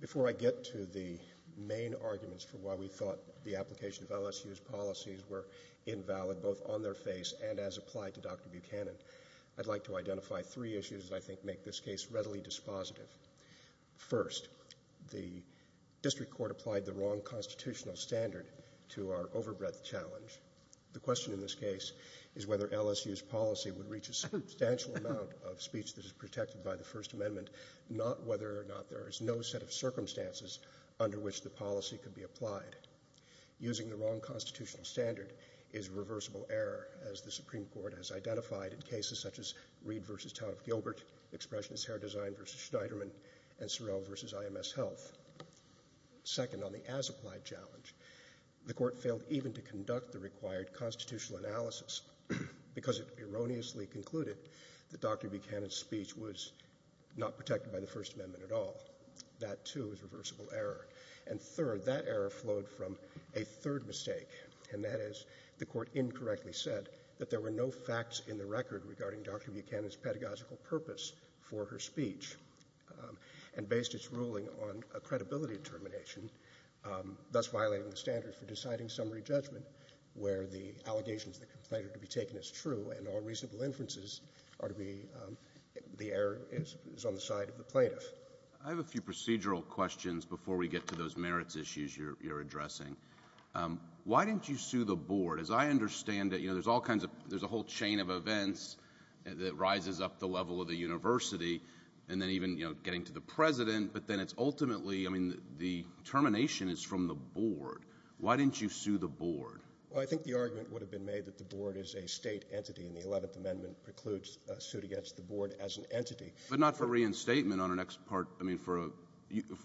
Before I get to the main arguments for why we thought the application of LSU's policies were invalid, both on their face and as applied to Dr. Buchanan, I'd like to identify three issues that I think make this case readily dispositive. First, the district court applied the wrong constitutional standard to our overbreadth challenge. The question in this case is whether LSU's policy would reach a substantial amount of speech that is protected by the First Amendment, not whether or not there is no set of circumstances under which the policy could be applied. Using the wrong constitutional standard is a reversible error, as the Supreme Court has identified in cases such as Reed v. Town of Gilbert, Expressionist Hair Design v. Schneiderman, and Sorrell v. IMS Health. Second, on the as applied challenge, the court failed even to conduct the required constitutional analysis because it erroneously concluded that Dr. Buchanan's speech was not protected by the First Amendment at all. That too is a reversible error. And third, that error flowed from a third mistake, and that is the court incorrectly said that there were no facts in the record regarding Dr. Buchanan's pedagogical purpose for her speech, and based its ruling on a credibility determination, thus violating the standard for deciding summary judgment, where the allegations of the complainant to be taken as true and all reasonable inferences are to be, the error is on the side of the plaintiff. I have a few procedural questions before we get to those merits issues you're addressing. Why didn't you sue the board? As I understand it, you know, there's all kinds of, there's a whole chain of events that rises up the level of the university, and then even, you know, getting to the president, but then it's ultimately, I mean, the termination is from the board. Why didn't you sue the board? Well, I think the argument would have been made that the board is a state entity, and the 11th Amendment precludes a suit against the board as an entity. But not for reinstatement on her next part, I mean, for a,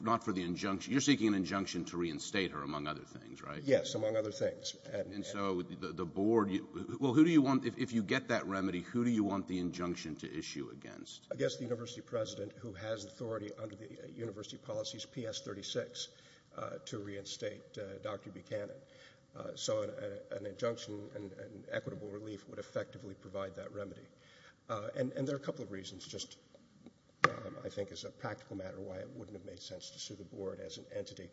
not for the injunction. You're seeking an injunction to reinstate her, among other things, right? Yes, among other things. And so the board, well, who do you want, if you get that remedy, who do you want the injunction to issue against? I guess the university president, who has authority under the university policies PS36 to reinstate Dr. Buchanan. So an injunction and equitable relief would effectively provide that remedy. And there are a couple of reasons, just I think as a practical matter, why it wouldn't have made sense to sue the board as an entity.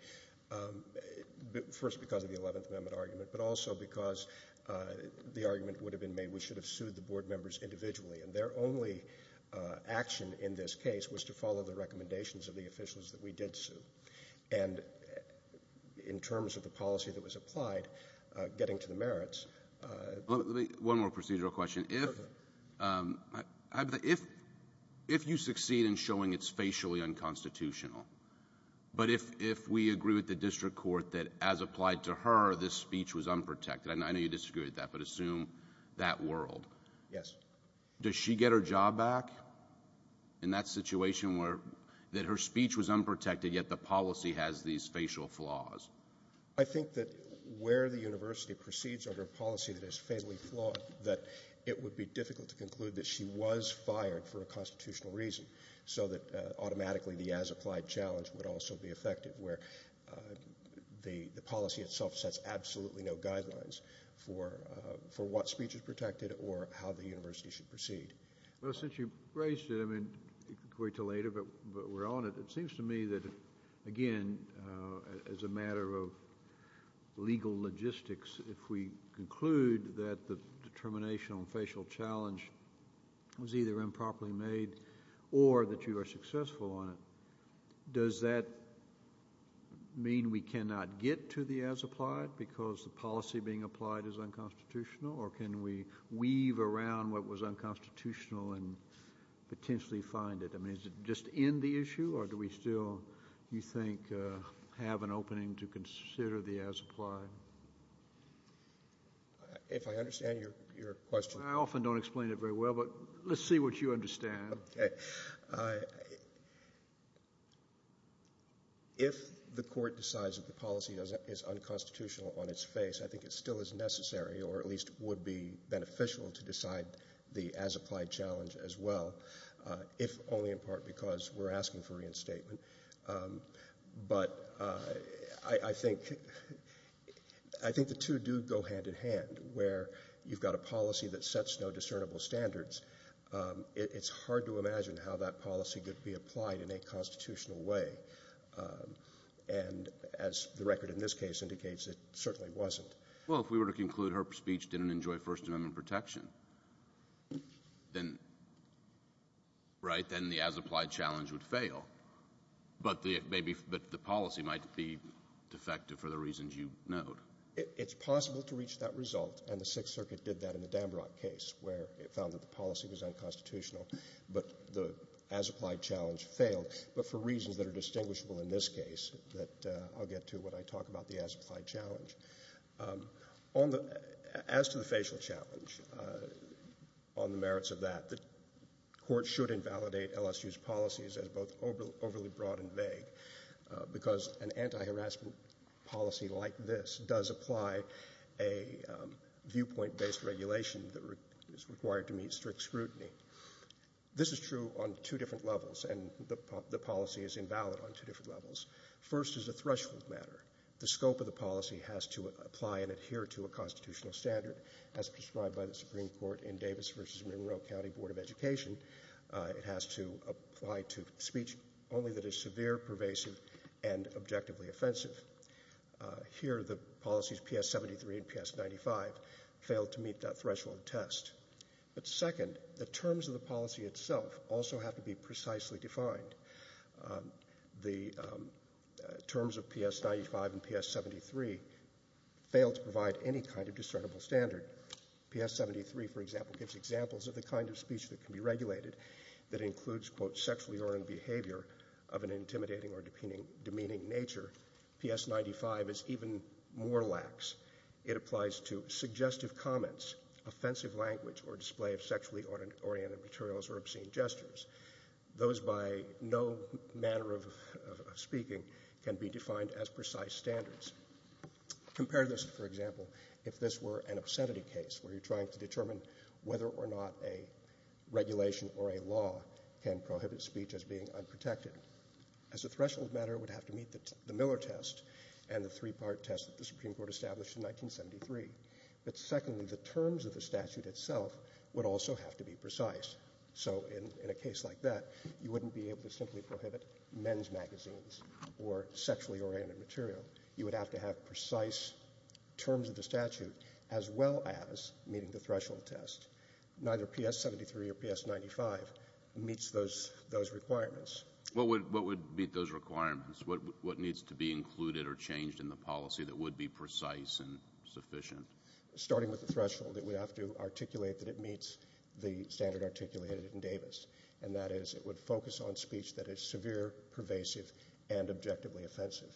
First, because of the 11th Amendment argument, but also because the argument would have been made we should have sued the board members individually, and their only action in this case was to follow the recommendations of the officials that we did sue. And in terms of the policy that was applied, getting to the merits of the board. One more procedural question. Perfect. If you succeed in showing it's facially unconstitutional, but if we agree with the district court that as applied to her, this speech was unprotected, and I know you disagree with that, but assume that world. Yes. Does she get her job back in that situation where that her speech was unprotected, yet the policy has these facial flaws? I think that where the university proceeds under a policy that is fatally flawed, that it would be difficult to conclude that she was fired for a constitutional reason, so that automatically the as applied challenge would also be effective, where the policy itself sets absolutely no guidelines for what speech is protected or how the university should proceed. Well, since you've raised it, I mean, it could wait till later, but we're on it. It seems to me that, again, as a matter of legal logistics, if we conclude that the determination on facial challenge was either improperly made or that you are successful on it, does that mean we cannot get to the as applied because the policy being applied is unconstitutional, or can we weave around what was unconstitutional and potentially find it? I mean, is it just in the issue, or do we still, do you think, have an opening to consider the as applied? If I understand your question... I often don't explain it very well, but let's see what you understand. If the court decides that the policy is unconstitutional on its face, I think it still is necessary, or at least would be beneficial to decide the as applied challenge as well, if only in part because we're asking for reinstatement, but I think the two do go hand in hand, where you've got a policy that sets no discernible standards. It's hard to imagine how that policy could be applied in a constitutional way, and as the record in this case indicates, it certainly wasn't. Well, if we were to conclude her speech didn't enjoy First Amendment protection, then, right, then the as applied challenge would fail, but the policy might be defective for the reasons you note. It's possible to reach that result, and the Sixth Circuit did that in the Dambrock case where it found that the policy was unconstitutional, but the as applied challenge failed, but for reasons that are distinguishable in this case that I'll get to when I talk about the as As to the facial challenge, on the merits of that, the Court should invalidate LSU's policies as both overly broad and vague because an anti-harassment policy like this does apply a viewpoint-based regulation that is required to meet strict scrutiny. This is true on two different levels, and the policy is invalid on two different levels. First is a threshold matter. The scope of the policy has to apply and adhere to a constitutional standard as prescribed by the Supreme Court in Davis v. Monroe County Board of Education. It has to apply to speech only that is severe, pervasive, and objectively offensive. Here the policies PS73 and PS95 failed to meet that threshold test, but second, the terms of PS95 and PS73 failed to provide any kind of discernible standard. PS73, for example, gives examples of the kind of speech that can be regulated that includes quote sexually oriented behavior of an intimidating or demeaning nature. PS95 is even more lax. It applies to suggestive comments, offensive language, or display of sexually oriented materials or obscene gestures. Those by no manner of speaking can be defined as precise standards. Compare this, for example, if this were an obscenity case where you're trying to determine whether or not a regulation or a law can prohibit speech as being unprotected. As a threshold matter, it would have to meet the Miller test and the three-part test that the Supreme Court established in 1973, but secondly, the terms of the statute itself would also have to be precise. So in a case like that, you wouldn't be able to simply prohibit men's magazines or sexually oriented material. You would have to have precise terms of the statute as well as meeting the threshold test. Neither PS73 or PS95 meets those requirements. What would meet those requirements? What needs to be included or changed in the policy that would be precise and sufficient? Starting with the threshold, it would have to articulate that it meets the standard articulated in Davis, and that is it would focus on speech that is severe, pervasive, and objectively offensive.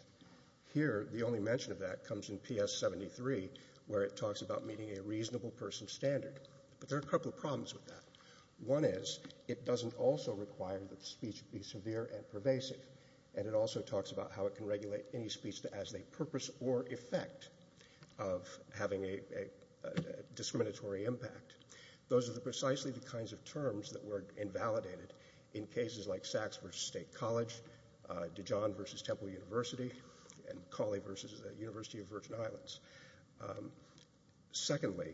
Here, the only mention of that comes in PS73, where it talks about meeting a reasonable person's standard. But there are a couple of problems with that. One is it doesn't also require that speech be severe and pervasive, and it also talks about how it can regulate any speech as a purpose or effect of having a discriminatory impact. Those are precisely the kinds of terms that were invalidated in cases like Sachs v. State College, Dijon v. Temple University, and Cawley v. the University of Virgin Islands. Secondly,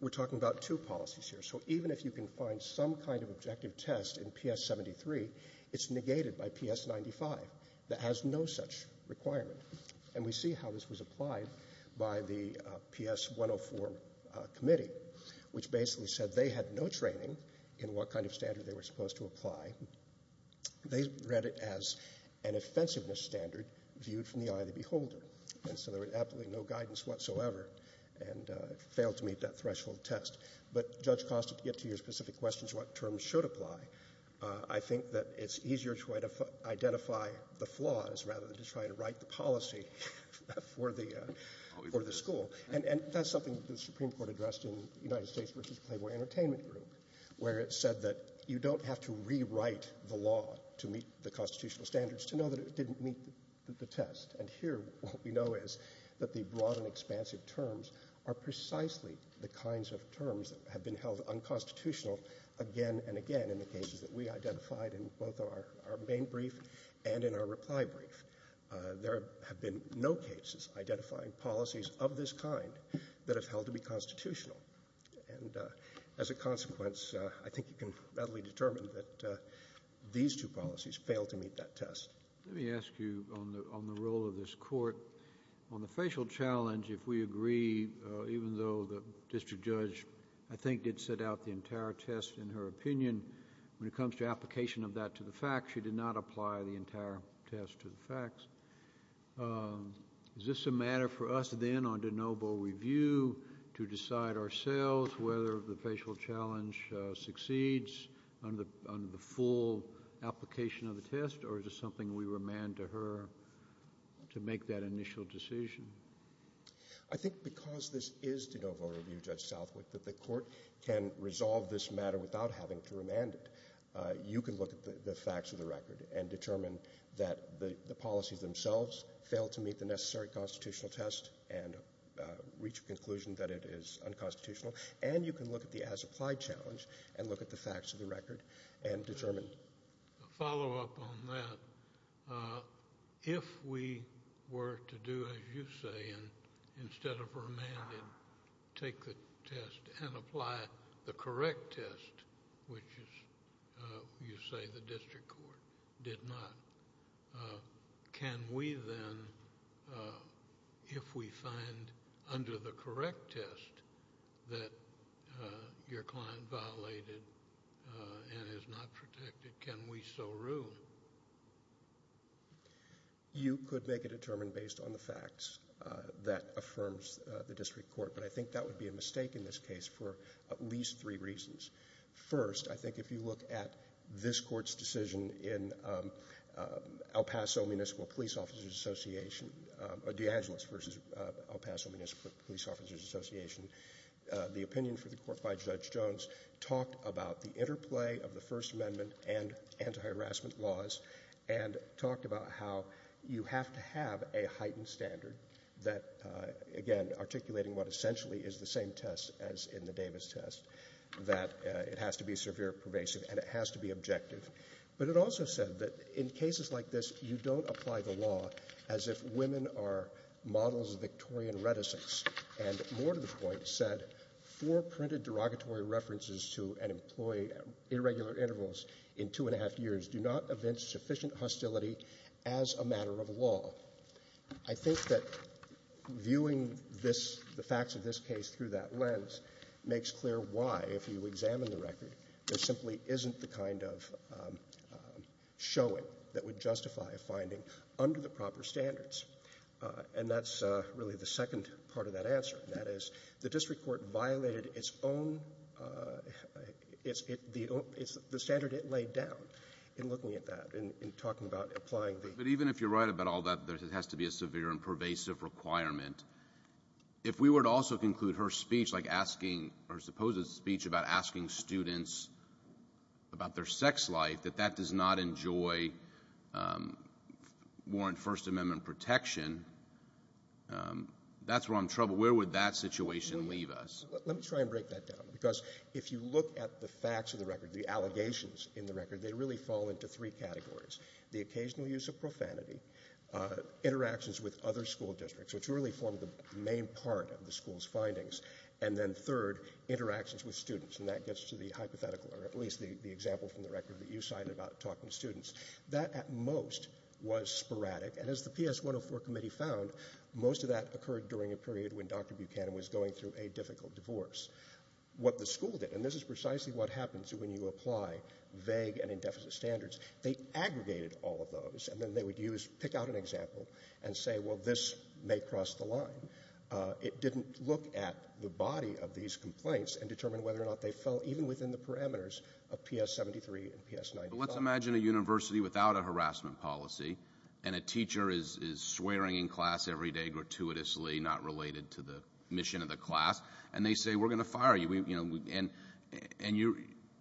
we're talking about two policies here. So even if you can find some kind of objective test in PS73, it's negated by PS95 that has no such requirement. And we see how this was applied by the PS104 committee, which basically said they had no training in what kind of standard they were supposed to apply. They read it as an offensiveness standard viewed from the eye of the beholder, and so there was absolutely no guidance whatsoever and failed to meet that threshold test. But Judge Costa, to get to your specific questions, what terms should apply, I think that it's easier to identify the flaws rather than to try to write the policy for the school. And that's something the Supreme Court addressed in the United States v. Playboy Entertainment Group, where it said that you don't have to rewrite the law to meet the constitutional standards to know that it didn't meet the test. And here what we know is that the broad and expansive terms are precisely the kinds of terms that have been held unconstitutional again and again in the cases that we identified in both our main brief and in our reply brief. There have been no cases identifying policies of this kind that have held to be constitutional. And as a consequence, I think you can readily determine that these two policies failed to meet that test. Let me ask you on the role of this Court. On the facial challenge, if we agree, even though the district judge, I think, did set out the entire test in her opinion, when it comes to application of that to the facts, she did not apply the entire test to the facts, is this a matter for us then on de novo review to decide ourselves whether the facial challenge succeeds on the full application of the test or is it something we remand to her to make that initial decision? I think because this is de novo review, Judge Southwick, that the Court can resolve this matter without having to remand it. You can look at the facts of the record and determine that the policies themselves failed to meet the necessary constitutional test and reach a conclusion that it is unconstitutional. And you can look at the as-applied challenge and look at the facts of the record and determine that it is unconstitutional. I have a follow-up on that. If we were to do as you say and instead of remanding, take the test and apply the correct test, which you say the district court did not, can we then, if we find under the correct test that your client violated and is not protected, can we so rule? You could make a determination based on the facts that affirms the district court, but I think that would be a mistake in this case for at least three reasons. First, I think if you look at this Court's decision in El Paso Municipal Police Officers Association, the opinion for the Court by Judge Jones talked about the interplay of the First Amendment and anti-harassment laws and talked about how you have to have a heightened standard that, again, articulating what essentially is the same test as in the Davis test, that it has to be severe, pervasive, and it has to be objective. But it also said that in cases like this, you don't apply the law as if women are models of Victorian reticence. And more to the point said four printed derogatory references to an employee at irregular intervals in two and a half years do not evince sufficient hostility as a matter of law. I think that viewing this, the facts of this case through that lens, makes clear why, if you examine the record, there simply isn't the kind of showing that would justify a finding under the proper standards. And that's really the second part of that answer. That is, the district court violated its own the standard it laid down in looking at that, in talking about applying the ---- But even if you're right about all that, there has to be a severe and pervasive requirement. If we were to also conclude her speech, like asking or suppose a speech about asking students about their sex life, that that does not enjoy, warrant First Amendment protection, that's where I'm in trouble. Where would that situation leave us? Let me try and break that down. Because if you look at the facts of the record, the allegations in the record, they really fall into three categories, the occasional use of profanity, interactions with other school districts, which really form the main part of the school's findings, and then third, interactions with students. And that gets to the hypothetical, or at least the example from the record that you cited about talking to students. That, at most, was sporadic. And as the PS 104 committee found, most of that occurred during a period when Dr. Buchanan was going through a difficult divorce. What the school did, and this is precisely what happens when you apply vague and indefinite standards, they aggregated all of those. And then they would use, pick out an example, and say, well, this may cross the line. It didn't look at the body of these complaints and determine whether or not they fell even within the parameters of PS 73 and PS 95. But let's imagine a university without a harassment policy, and a teacher is swearing in class every day gratuitously, not related to the mission of the class. And they say, we're going to fire you. And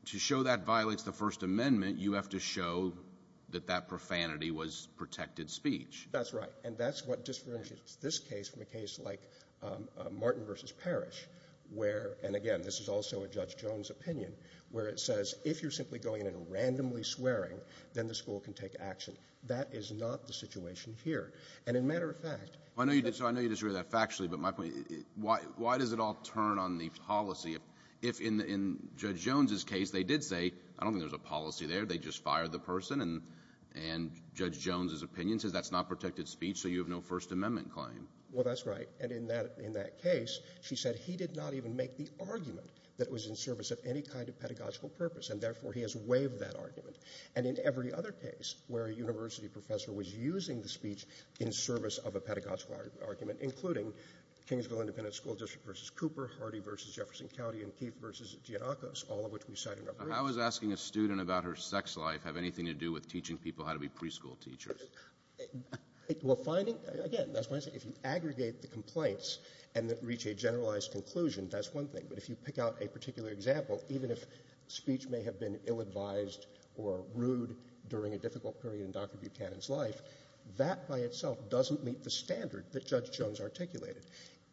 to show that violates the First Amendment, you have to show that that was protected speech. That's right. And that's what differentiates this case from a case like Martin v. Parrish, where, and again, this is also a Judge Jones opinion, where it says, if you're simply going in and randomly swearing, then the school can take action. That is not the situation here. And in matter of fact — I know you disagree with that factually, but my point — why does it all turn on the policy? If in Judge Jones' case, they did say, I don't think there's a policy there. They just fired the person. And Judge Jones' opinion says that's not protected speech, so you have no First Amendment claim. Well, that's right. And in that case, she said he did not even make the argument that it was in service of any kind of pedagogical purpose, and therefore he has waived that argument. And in every other case where a university professor was using the speech in service of a pedagogical argument, including Kingsville Independent School District v. Cooper, Hardy v. Jefferson County, and Keith v. Giannakos, all of which we cite in our briefs — How is asking a student about her sex life have anything to do with teaching people how to be preschool teachers? Well, finding — again, that's what I'm saying. If you aggregate the complaints and then reach a generalized conclusion, that's one thing. But if you pick out a particular example, even if speech may have been ill-advised or rude during a difficult period in Dr. Buchanan's life, that by itself doesn't meet the standard that Judge Jones articulated.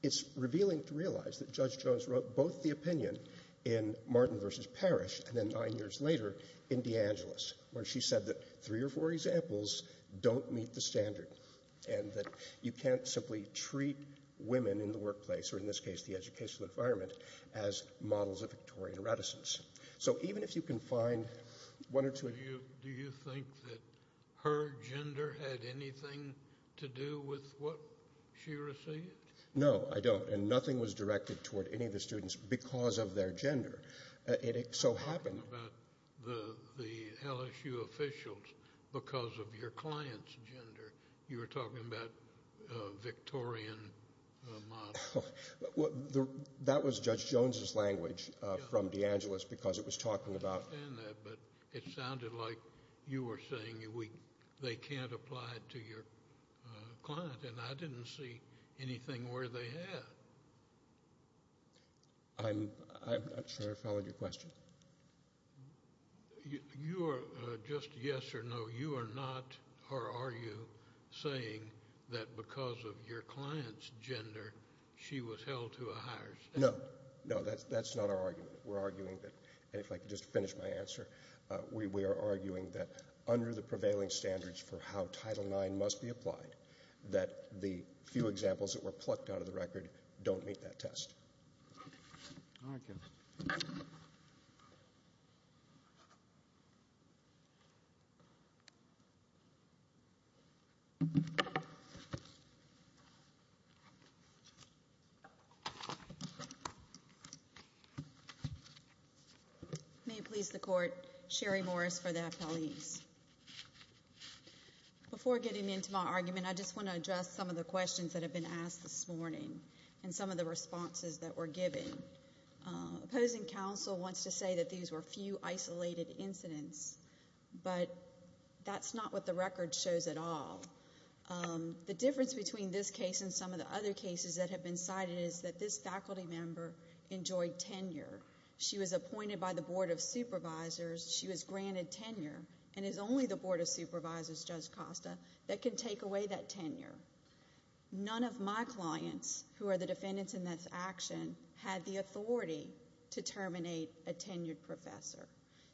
It's revealing to realize that Judge Jones wrote both the opinion in Martin v. Parrish and then nine years later, in DeAngelis, where she said that three or four examples don't meet the standard and that you can't simply treat women in the workplace, or in this case the educational environment, as models of Victorian reticence. So even if you can find one or two — Do you think that her gender had anything to do with what she received? No, I don't. And nothing was directed toward any of the students because of their gender. It so happened — You're talking about the LSU officials because of your client's gender. You were talking about Victorian models. Well, that was Judge Jones's language from DeAngelis because it was talking about — I understand that, but it sounded like you were saying they can't apply it to your client, and I didn't see anything where they had. I'm not sure I followed your question. You are just yes or no. You are not, or are you, saying that because of your client's gender, she was held to a higher standard? No, no, that's not our argument. We're arguing that — and if I could just finish my answer — we are arguing that under the prevailing standards for how Title IX must be applied, that the few examples that were plucked out of the record don't meet that test. All right, Kevin. May it please the Court, Sherry Morris for the appellees. Before getting into my argument, I just want to address some of the questions that have been asked this morning and some of the responses that were given. Opposing counsel wants to say that these were few isolated incidents, but that's not what the record shows at all. The difference between this case and some of the other cases that have been cited is that this faculty member enjoyed tenure. She was appointed by the Board of Supervisors. She was granted tenure and it's only the Board of Supervisors, Judge Costa, that can take away that tenure. None of my clients, who are the defendants in this action, had the authority to terminate a tenured professor.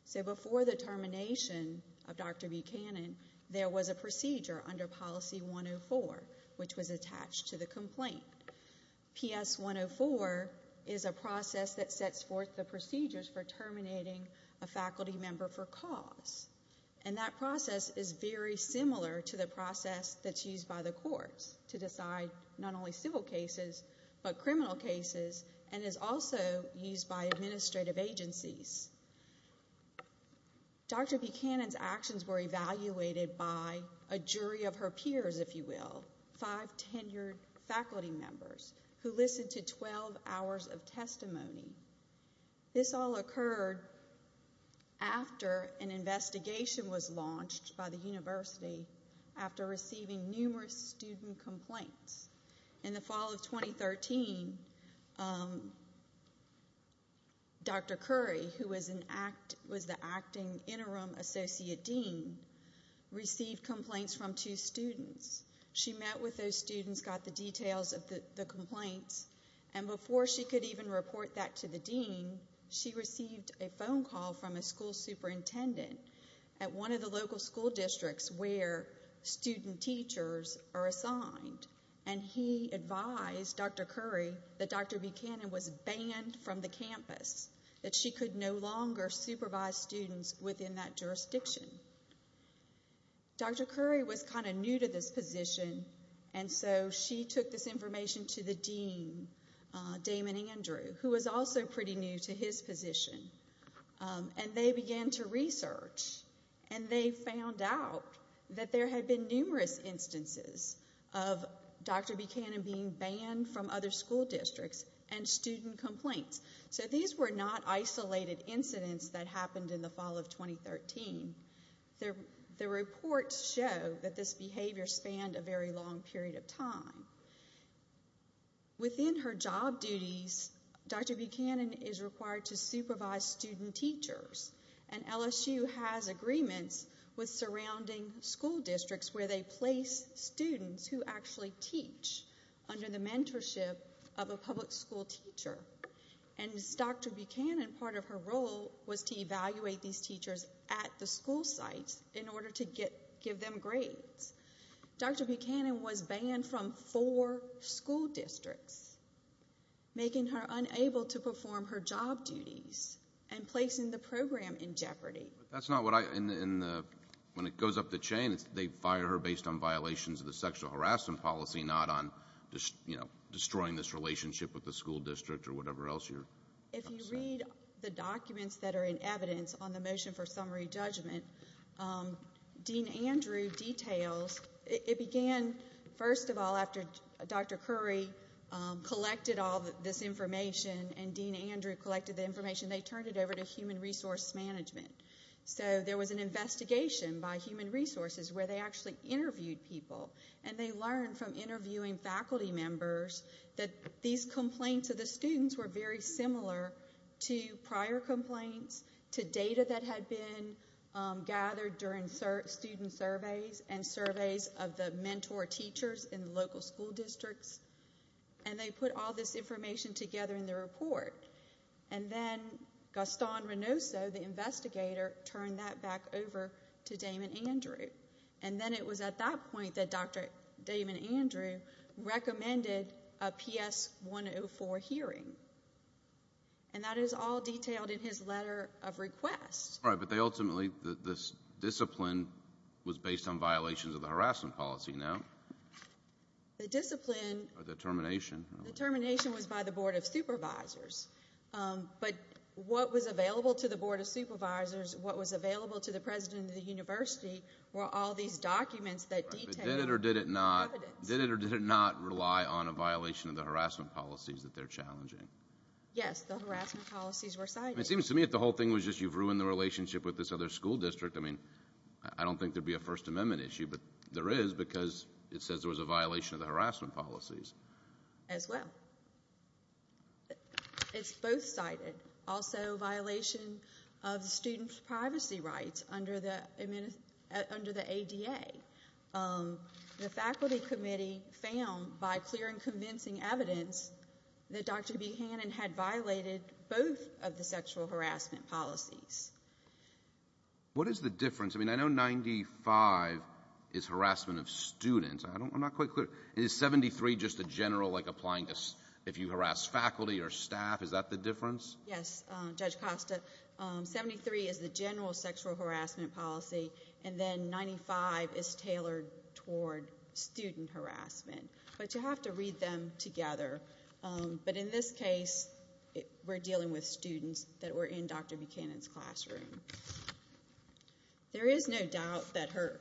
So before the termination of Dr. Buchanan, there was a procedure under Policy 104, which was attached to the complaint. PS 104 is a process that sets forth the procedures for terminating a faculty member for cause. And that process is very similar to the process that's used by the courts to decide not only civil cases but criminal cases and is also used by administrative agencies. Dr. Buchanan's actions were evaluated by a jury of her peers, if you will, five tenured faculty members who listened to 12 hours of testimony. This all occurred after an investigation was launched by the university after receiving numerous student complaints. In the fall of 2013, Dr. Curry, who was the acting interim associate dean, received complaints from two students. She met with those students, got the details of the complaints, and before she could even report that to the dean, she received a phone call from a school superintendent at one of the local school districts where student teachers are assigned. And he advised Dr. Curry that Dr. Buchanan was banned from the campus, that she could no longer supervise students within that jurisdiction. Dr. Curry was kind of new to this position, and so she took this information to the dean, Damon Andrew, who was also pretty new to his position. And they began to research, and they found out that there had been numerous instances of Dr. Buchanan being banned from other school districts and student complaints. So these were not isolated incidents that happened in the fall of 2013. The reports show that this behavior spanned a very long period of time. Within her job duties, Dr. Buchanan is required to supervise student teachers, and LSU has agreements with surrounding school districts where they place students who actually teach under the mentorship of a public school teacher. And as Dr. Buchanan, part of her role was to evaluate these teachers at the school sites in order to give them grades. Dr. Buchanan was banned from four school districts, making her unable to perform her job duties and placing the program in jeopardy. When it goes up the chain, they fire her based on violations of the sexual harassment policy, not on destroying this relationship with the school district or whatever else. If you read the documents that are in evidence on the motion for summary judgment, Dean Andrew details it began, first of all, after Dr. Curry collected all this information and Dean Andrew collected the information, they turned it over to human resource management. So there was an investigation by human resources where they actually interviewed people, and they learned from interviewing faculty members that these complaints of the students were very similar to prior complaints, to data that had been gathered during student surveys and surveys of the mentor teachers in the local school districts, and they put all this information together in the report. And then Gaston Reynoso, the investigator, turned that back over to Damon Andrew. And then it was at that point that Dr. Damon Andrew recommended a PS 104 hearing. And that is all detailed in his letter of request. All right, but they ultimately, this discipline was based on violations of the harassment policy, no? The discipline. Or the termination. The termination was by the Board of Supervisors. But what was available to the Board of Supervisors, what was available to the president of the university were all these documents that detailed evidence. Did it or did it not rely on a violation of the harassment policies that they're challenging? Yes, the harassment policies were cited. It seems to me that the whole thing was just you've ruined the relationship with this other school district. I mean, I don't think there would be a First Amendment issue, but there is because it says there was a violation of the harassment policies. As well. It's both cited. Also a violation of the student's privacy rights under the ADA. The faculty committee found, by clear and convincing evidence, that Dr. B. Hannon had violated both of the sexual harassment policies. What is the difference? I mean, I know 95 is harassment of students. I'm not quite clear. Is 73 just a general, like, applying if you harass faculty or staff? Is that the difference? Yes, Judge Costa. 73 is the general sexual harassment policy, and then 95 is tailored toward student harassment. But you have to read them together. But in this case, we're dealing with students that were in Dr. B. Hannon's classroom. There is no doubt that her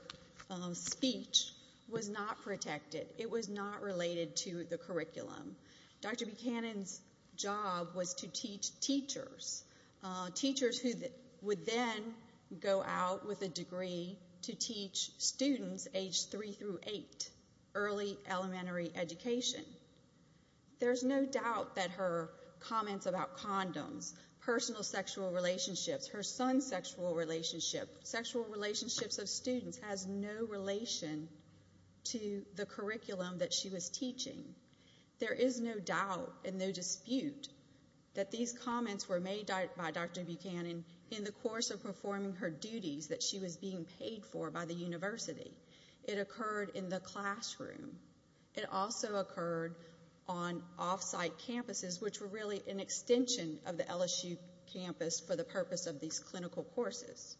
speech was not protected. It was not related to the curriculum. Dr. B. Hannon's job was to teach teachers, teachers who would then go out with a degree to teach students aged 3 through 8, early elementary education. There's no doubt that her comments about condoms, personal sexual relationships, her son's sexual relationship, sexual relationships of students, has no relation to the curriculum that she was teaching. There is no doubt and no dispute that these comments were made by Dr. B. Hannon in the course of performing her duties that she was being paid for by the university. It occurred in the classroom. It also occurred on off-site campuses, which were really an extension of the LSU campus for the purpose of these clinical courses.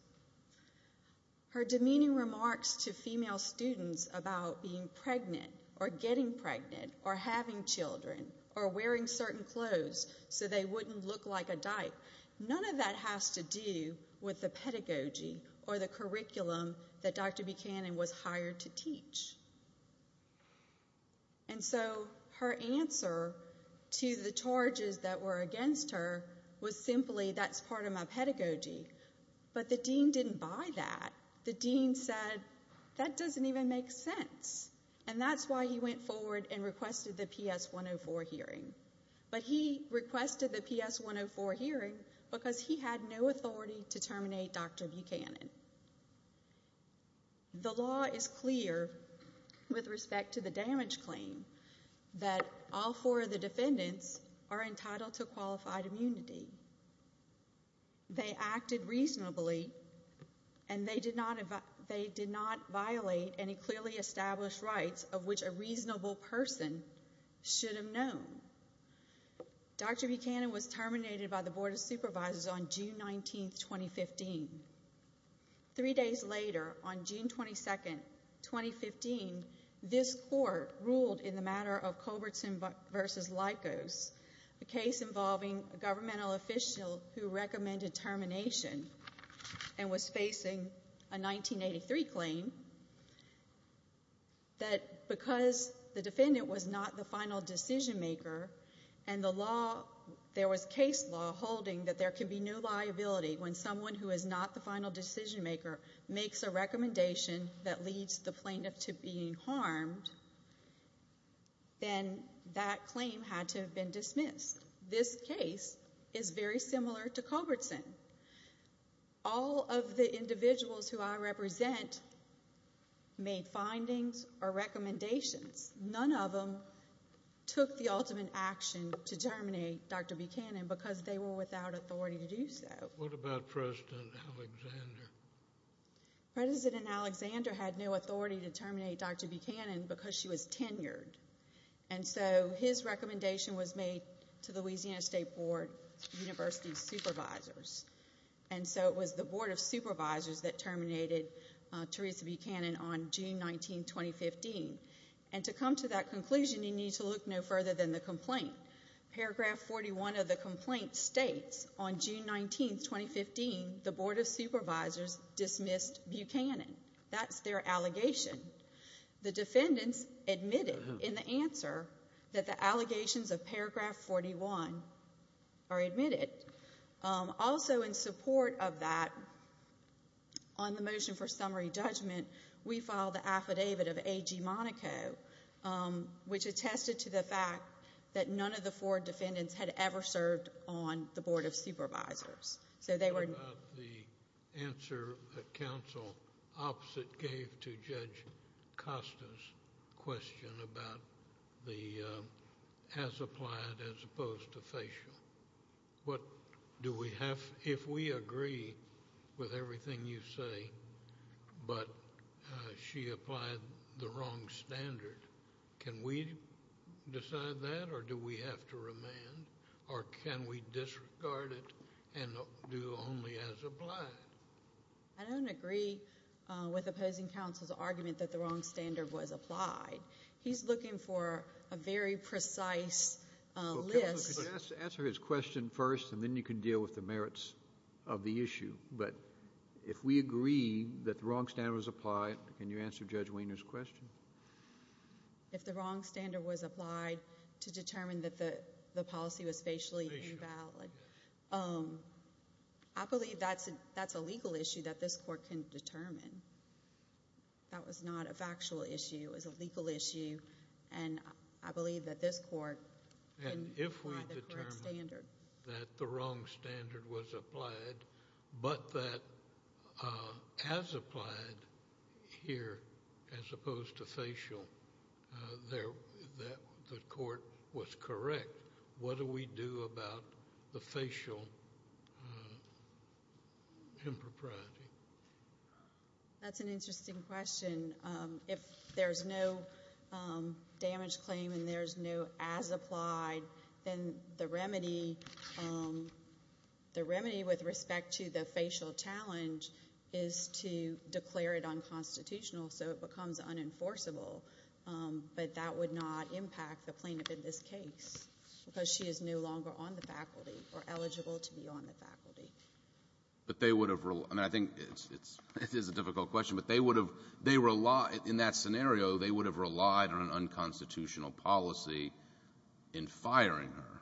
Her demeaning remarks to female students about being pregnant or getting pregnant or having children or wearing certain clothes so they wouldn't look like a dyke, none of that has to do with the pedagogy or the curriculum that Dr. B. Hannon was hired to teach. And so her answer to the charges that were against her was simply, hey, that's part of my pedagogy. But the dean didn't buy that. The dean said, that doesn't even make sense. And that's why he went forward and requested the PS 104 hearing. But he requested the PS 104 hearing because he had no authority to terminate Dr. B. Hannon. The law is clear with respect to the damage claim that all four of the defendants are entitled to qualified immunity. They acted reasonably and they did not violate any clearly established rights of which a reasonable person should have known. Dr. B. Hannon was terminated by the Board of Supervisors on June 19, 2015. Three days later, on June 22, 2015, this court ruled in the matter of Cobertson v. Lykos, a case involving a governmental official who recommended termination and was facing a 1983 claim, that because the defendant was not the final decision maker and the law, there was case law holding that there could be no liability when someone who is not the final decision maker makes a recommendation that leads the plaintiff to being harmed, then that claim had to have been dismissed. This case is very similar to Cobertson. All of the individuals who I represent made findings or recommendations. None of them took the ultimate action to terminate Dr. B. Hannon because they were without authority to do so. What about President Alexander? President Alexander had no authority to terminate Dr. B. Hannon because she was tenured. And so his recommendation was made to the Louisiana State Board of University Supervisors. And so it was the Board of Supervisors that terminated Teresa B. Hannon on June 19, 2015. And to come to that conclusion, you need to look no further than the complaint. Paragraph 41 of the complaint states, on June 19, 2015, the Board of Supervisors dismissed B. Hannon. That's their allegation. The defendants admitted in the answer that the allegations of paragraph 41 are admitted. Also in support of that, on the motion for summary judgment, we filed the affidavit of A. G. Monaco, which attested to the fact that none of the four defendants had ever served on the Board of Supervisors. What about the answer that counsel opposite gave to Judge Costa's question about the as applied as opposed to facial? If we agree with everything you say, but she applied the wrong standard, can we decide that or do we have to remand? Or can we disregard it and do only as applied? I don't agree with opposing counsel's argument that the wrong standard was applied. He's looking for a very precise list. Answer his question first, and then you can deal with the merits of the issue. But if we agree that the wrong standard was applied, can you answer Judge Wiener's question? If the wrong standard was applied to determine that the policy was facially invalid, I believe that's a legal issue that this court can determine. That was not a factual issue. It was a legal issue. And I believe that this court can apply the correct standard. And if we determine that the wrong standard was applied, but that as applied here as opposed to facial, that the court was correct, what do we do about the facial impropriety? That's an interesting question. If there's no damage claim and there's no as applied, then the remedy with respect to the facial challenge is to declare it unconstitutional so it becomes unenforceable. But that would not impact the plaintiff in this case because she is no longer on the faculty or eligible to be on the faculty. But they would have relied on an unconstitutional policy in firing her.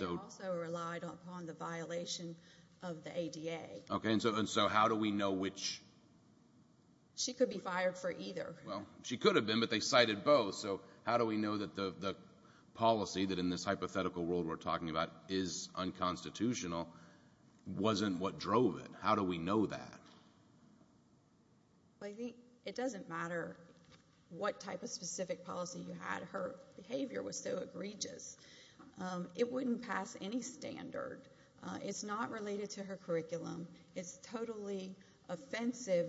They also relied upon the violation of the ADA. Okay. And so how do we know which? She could be fired for either. Well, she could have been, but they cited both. So how do we know that the policy that in this hypothetical world we're talking about is unconstitutional wasn't what drove it? How do we know that? It doesn't matter what type of specific policy you had. Her behavior was so egregious. It wouldn't pass any standard. It's not related to her curriculum. It's totally offensive.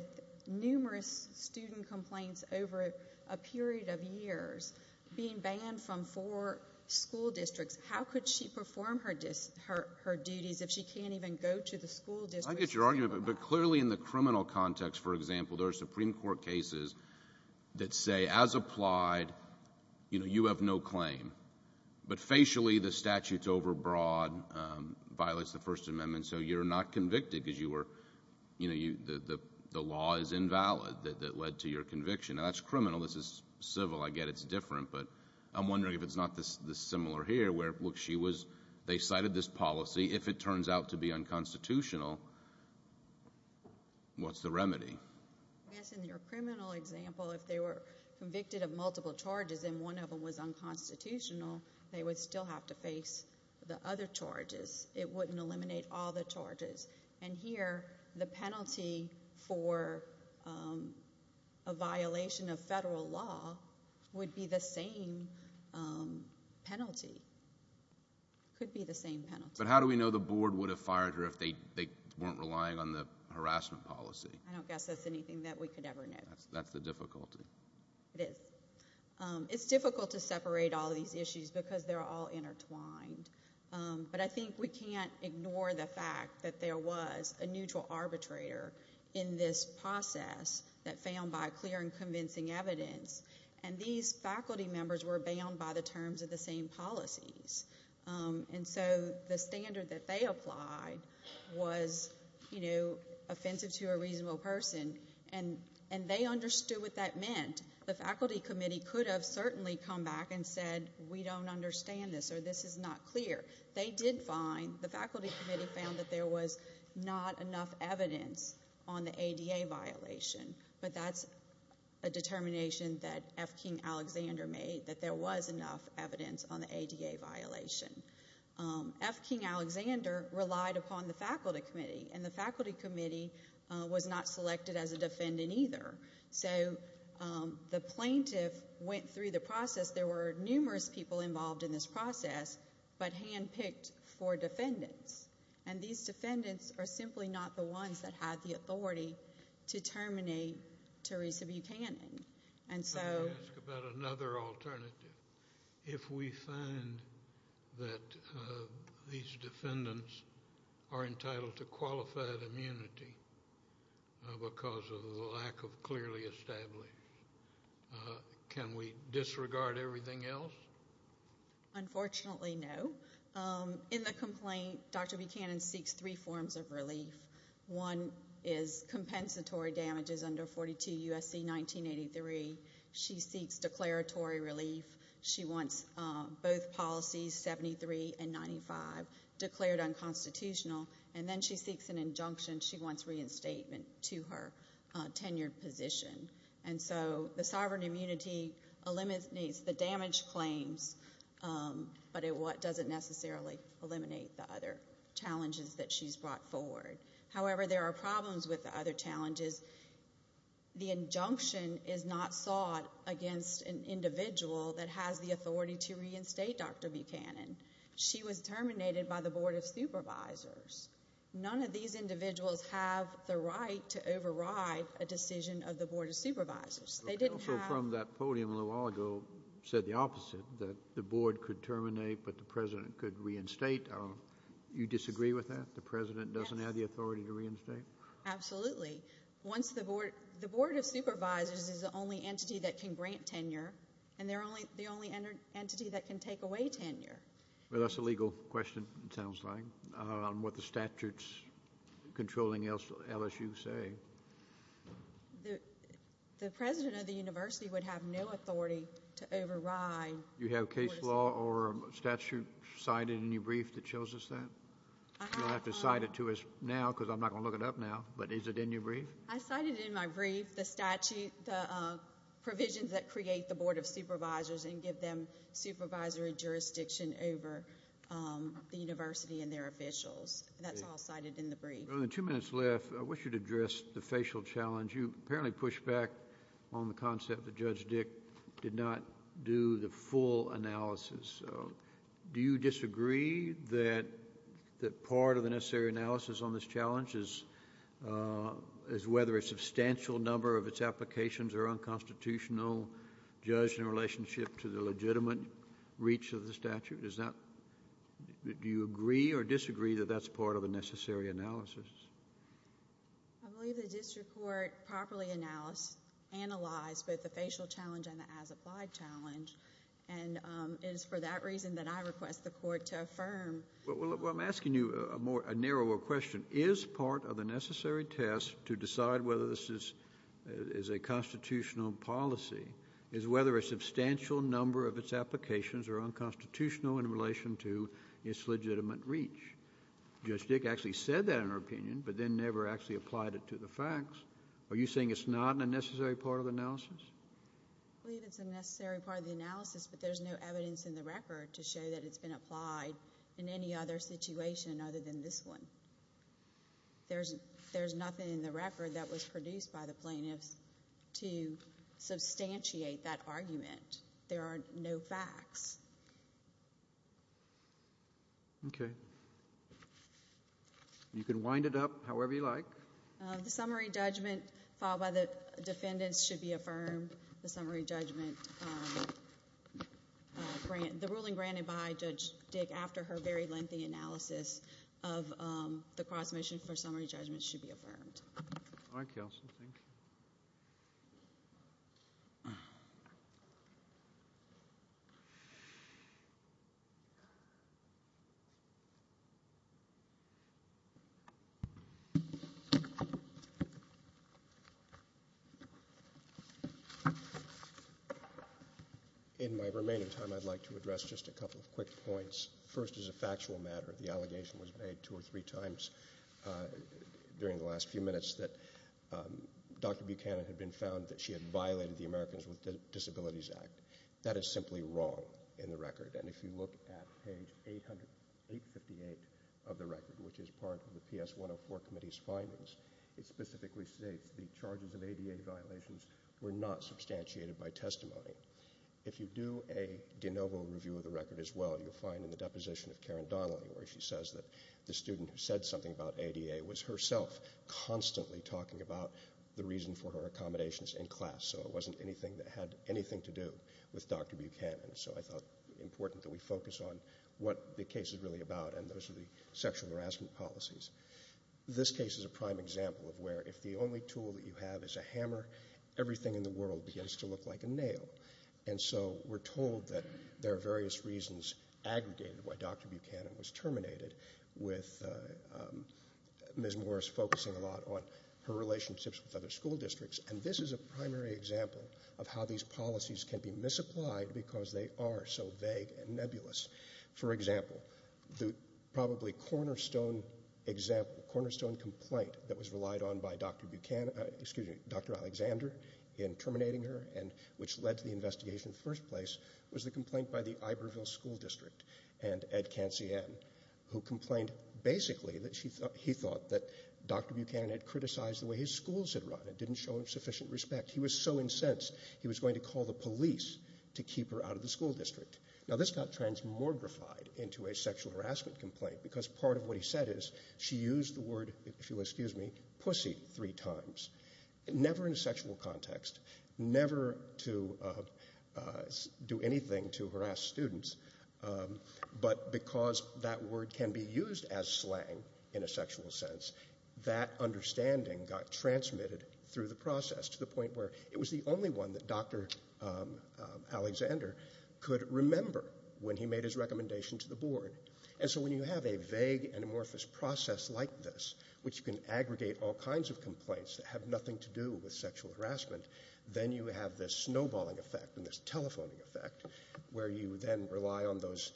Numerous student complaints over a period of years being banned from four school districts. How could she perform her duties if she can't even go to the school district? I get your argument, but clearly in the criminal context, for example, there are Supreme Court cases that say as applied, you know, you have no claim, but facially the statute's overbroad, violates the First Amendment, and so you're not convicted because the law is invalid that led to your conviction. Now, that's criminal. This is civil. I get it's different, but I'm wondering if it's not this similar here where, look, they cited this policy. If it turns out to be unconstitutional, what's the remedy? I guess in your criminal example, if they were convicted of multiple charges and one of them was unconstitutional, they would still have to face the other charges. It wouldn't eliminate all the charges. And here the penalty for a violation of federal law would be the same penalty. It could be the same penalty. But how do we know the board would have fired her if they weren't relying on the harassment policy? I don't guess that's anything that we could ever know. That's the difficulty. It is. It's difficult to separate all these issues because they're all intertwined. But I think we can't ignore the fact that there was a neutral arbitrator in this process that found by clear and convincing evidence, and these faculty members were bound by the terms of the same policies. And so the standard that they applied was, you know, offensive to a reasonable person, and they understood what that meant. The faculty committee could have certainly come back and said, we don't understand this or this is not clear. They did find, the faculty committee found that there was not enough evidence on the ADA violation. But that's a determination that F. King Alexander made, that there was enough evidence on the ADA violation. F. King Alexander relied upon the faculty committee, and the faculty committee was not selected as a defendant either. So the plaintiff went through the process. There were numerous people involved in this process, but hand-picked for defendants. And these defendants are simply not the ones that had the authority to terminate Teresa Buchanan. I would ask about another alternative. If we find that these defendants are entitled to qualified immunity because of the lack of clearly established, can we disregard everything else? Unfortunately, no. In the complaint, Dr. Buchanan seeks three forms of relief. One is compensatory damages under 42 U.S.C. 1983. She seeks declaratory relief. She wants both policies, 73 and 95, declared unconstitutional. And then she seeks an injunction. She wants reinstatement to her tenured position. And so the sovereign immunity eliminates the damage claims, but it doesn't necessarily eliminate the other challenges that she's brought forward. However, there are problems with the other challenges. The injunction is not sought against an individual that has the authority to reinstate Dr. Buchanan. She was terminated by the Board of Supervisors. None of these individuals have the right to override a decision of the Board of Supervisors. They didn't have— Also from that podium a little while ago said the opposite, that the board could terminate, but the president could reinstate. You disagree with that? The president doesn't have the authority to reinstate? Absolutely. Once the board—the Board of Supervisors is the only entity that can grant tenure, and they're the only entity that can take away tenure. Well, that's a legal question, it sounds like, on what the statutes controlling LSU say. The president of the university would have no authority to override— You have case law or a statute cited in your brief that shows us that? You'll have to cite it to us now because I'm not going to look it up now, but is it in your brief? I cited in my brief the provisions that create the Board of Supervisors and give them supervisory jurisdiction over the university and their officials. That's all cited in the brief. With two minutes left, I wish you'd address the facial challenge. You apparently pushed back on the concept that Judge Dick did not do the full analysis. Do you disagree that part of the necessary analysis on this challenge is whether a substantial number of its applications are unconstitutional, judged in relationship to the legitimate reach of the statute? Is that—do you agree or disagree that that's part of the necessary analysis? I believe the district court properly analyzed both the facial challenge and the as-applied challenge, and it is for that reason that I request the court to affirm. Well, I'm asking you a narrower question. What is part of the necessary test to decide whether this is a constitutional policy is whether a substantial number of its applications are unconstitutional in relation to its legitimate reach. Judge Dick actually said that in her opinion, but then never actually applied it to the facts. Are you saying it's not a necessary part of the analysis? I believe it's a necessary part of the analysis, but there's no evidence in the record to show that it's been applied in any other situation other than this one. There's nothing in the record that was produced by the plaintiffs to substantiate that argument. There are no facts. Okay. You can wind it up however you like. The summary judgment filed by the defendants should be affirmed. The ruling granted by Judge Dick after her very lengthy analysis of the cross-mission for summary judgment should be affirmed. All right, counsel. Thank you. In my remaining time, I'd like to address just a couple of quick points. First, as a factual matter, the allegation was made two or three times during the last few minutes that Dr. Buchanan had been found that she had violated the Americans with Disabilities Act. That is simply wrong in the record, and if you look at page 858 of the record, which is part of the PS 104 Committee's findings, it specifically states the charges of ADA violations were not substantiated by testimony. If you do a de novo review of the record as well, you'll find in the deposition of Karen Donnelly where she says that the student who said something about ADA was herself constantly talking about the reason for her accommodations in class, so it wasn't anything that had anything to do with Dr. Buchanan. So I thought it was important that we focus on what the case is really about, and those are the sexual harassment policies. This case is a prime example of where if the only tool that you have is a hammer, everything in the world begins to look like a nail, and so we're told that there are various reasons aggregated why Dr. Buchanan was terminated, with Ms. Morris focusing a lot on her relationships with other school districts, and this is a primary example of how these policies can be misapplied because they are so vague and nebulous. For example, the probably cornerstone complaint that was relied on by Dr. Alexander in terminating her, which led to the investigation in the first place, was the complaint by the Iberville School District and Ed Cancian, who complained basically that he thought that Dr. Buchanan had criticized the way his schools had run and didn't show him sufficient respect. He was so incensed he was going to call the police to keep her out of the school district. Now this got transmogrified into a sexual harassment complaint because part of what he said is she used the word, if you will excuse me, pussy three times. Never in a sexual context, never to do anything to harass students, but because that word can be used as slang in a sexual sense, that understanding got transmitted through the process to the point where it was the only one that Dr. Alexander could remember when he made his recommendation to the board. And so when you have a vague and amorphous process like this, which can aggregate all kinds of complaints that have nothing to do with sexual harassment, then you have this snowballing effect and this telephoning effect where you then rely on those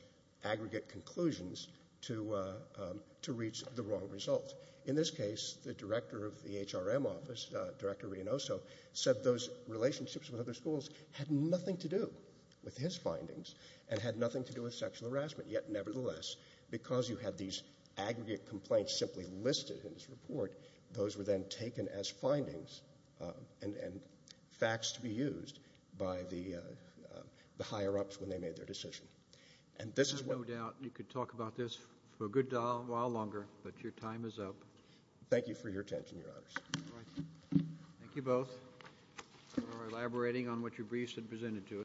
aggregate conclusions to reach the wrong result. In this case, the director of the HRM office, Director Reynoso, said those relationships with other schools had nothing to do with his findings and had nothing to do with sexual harassment. Yet nevertheless, because you had these aggregate complaints simply listed in his report, those were then taken as findings and facts to be used by the higher-ups when they made their decision. I have no doubt you could talk about this for a good while longer, but your time is up. Thank you for your attention, Your Honors. Thank you both for elaborating on what your briefs had presented to us.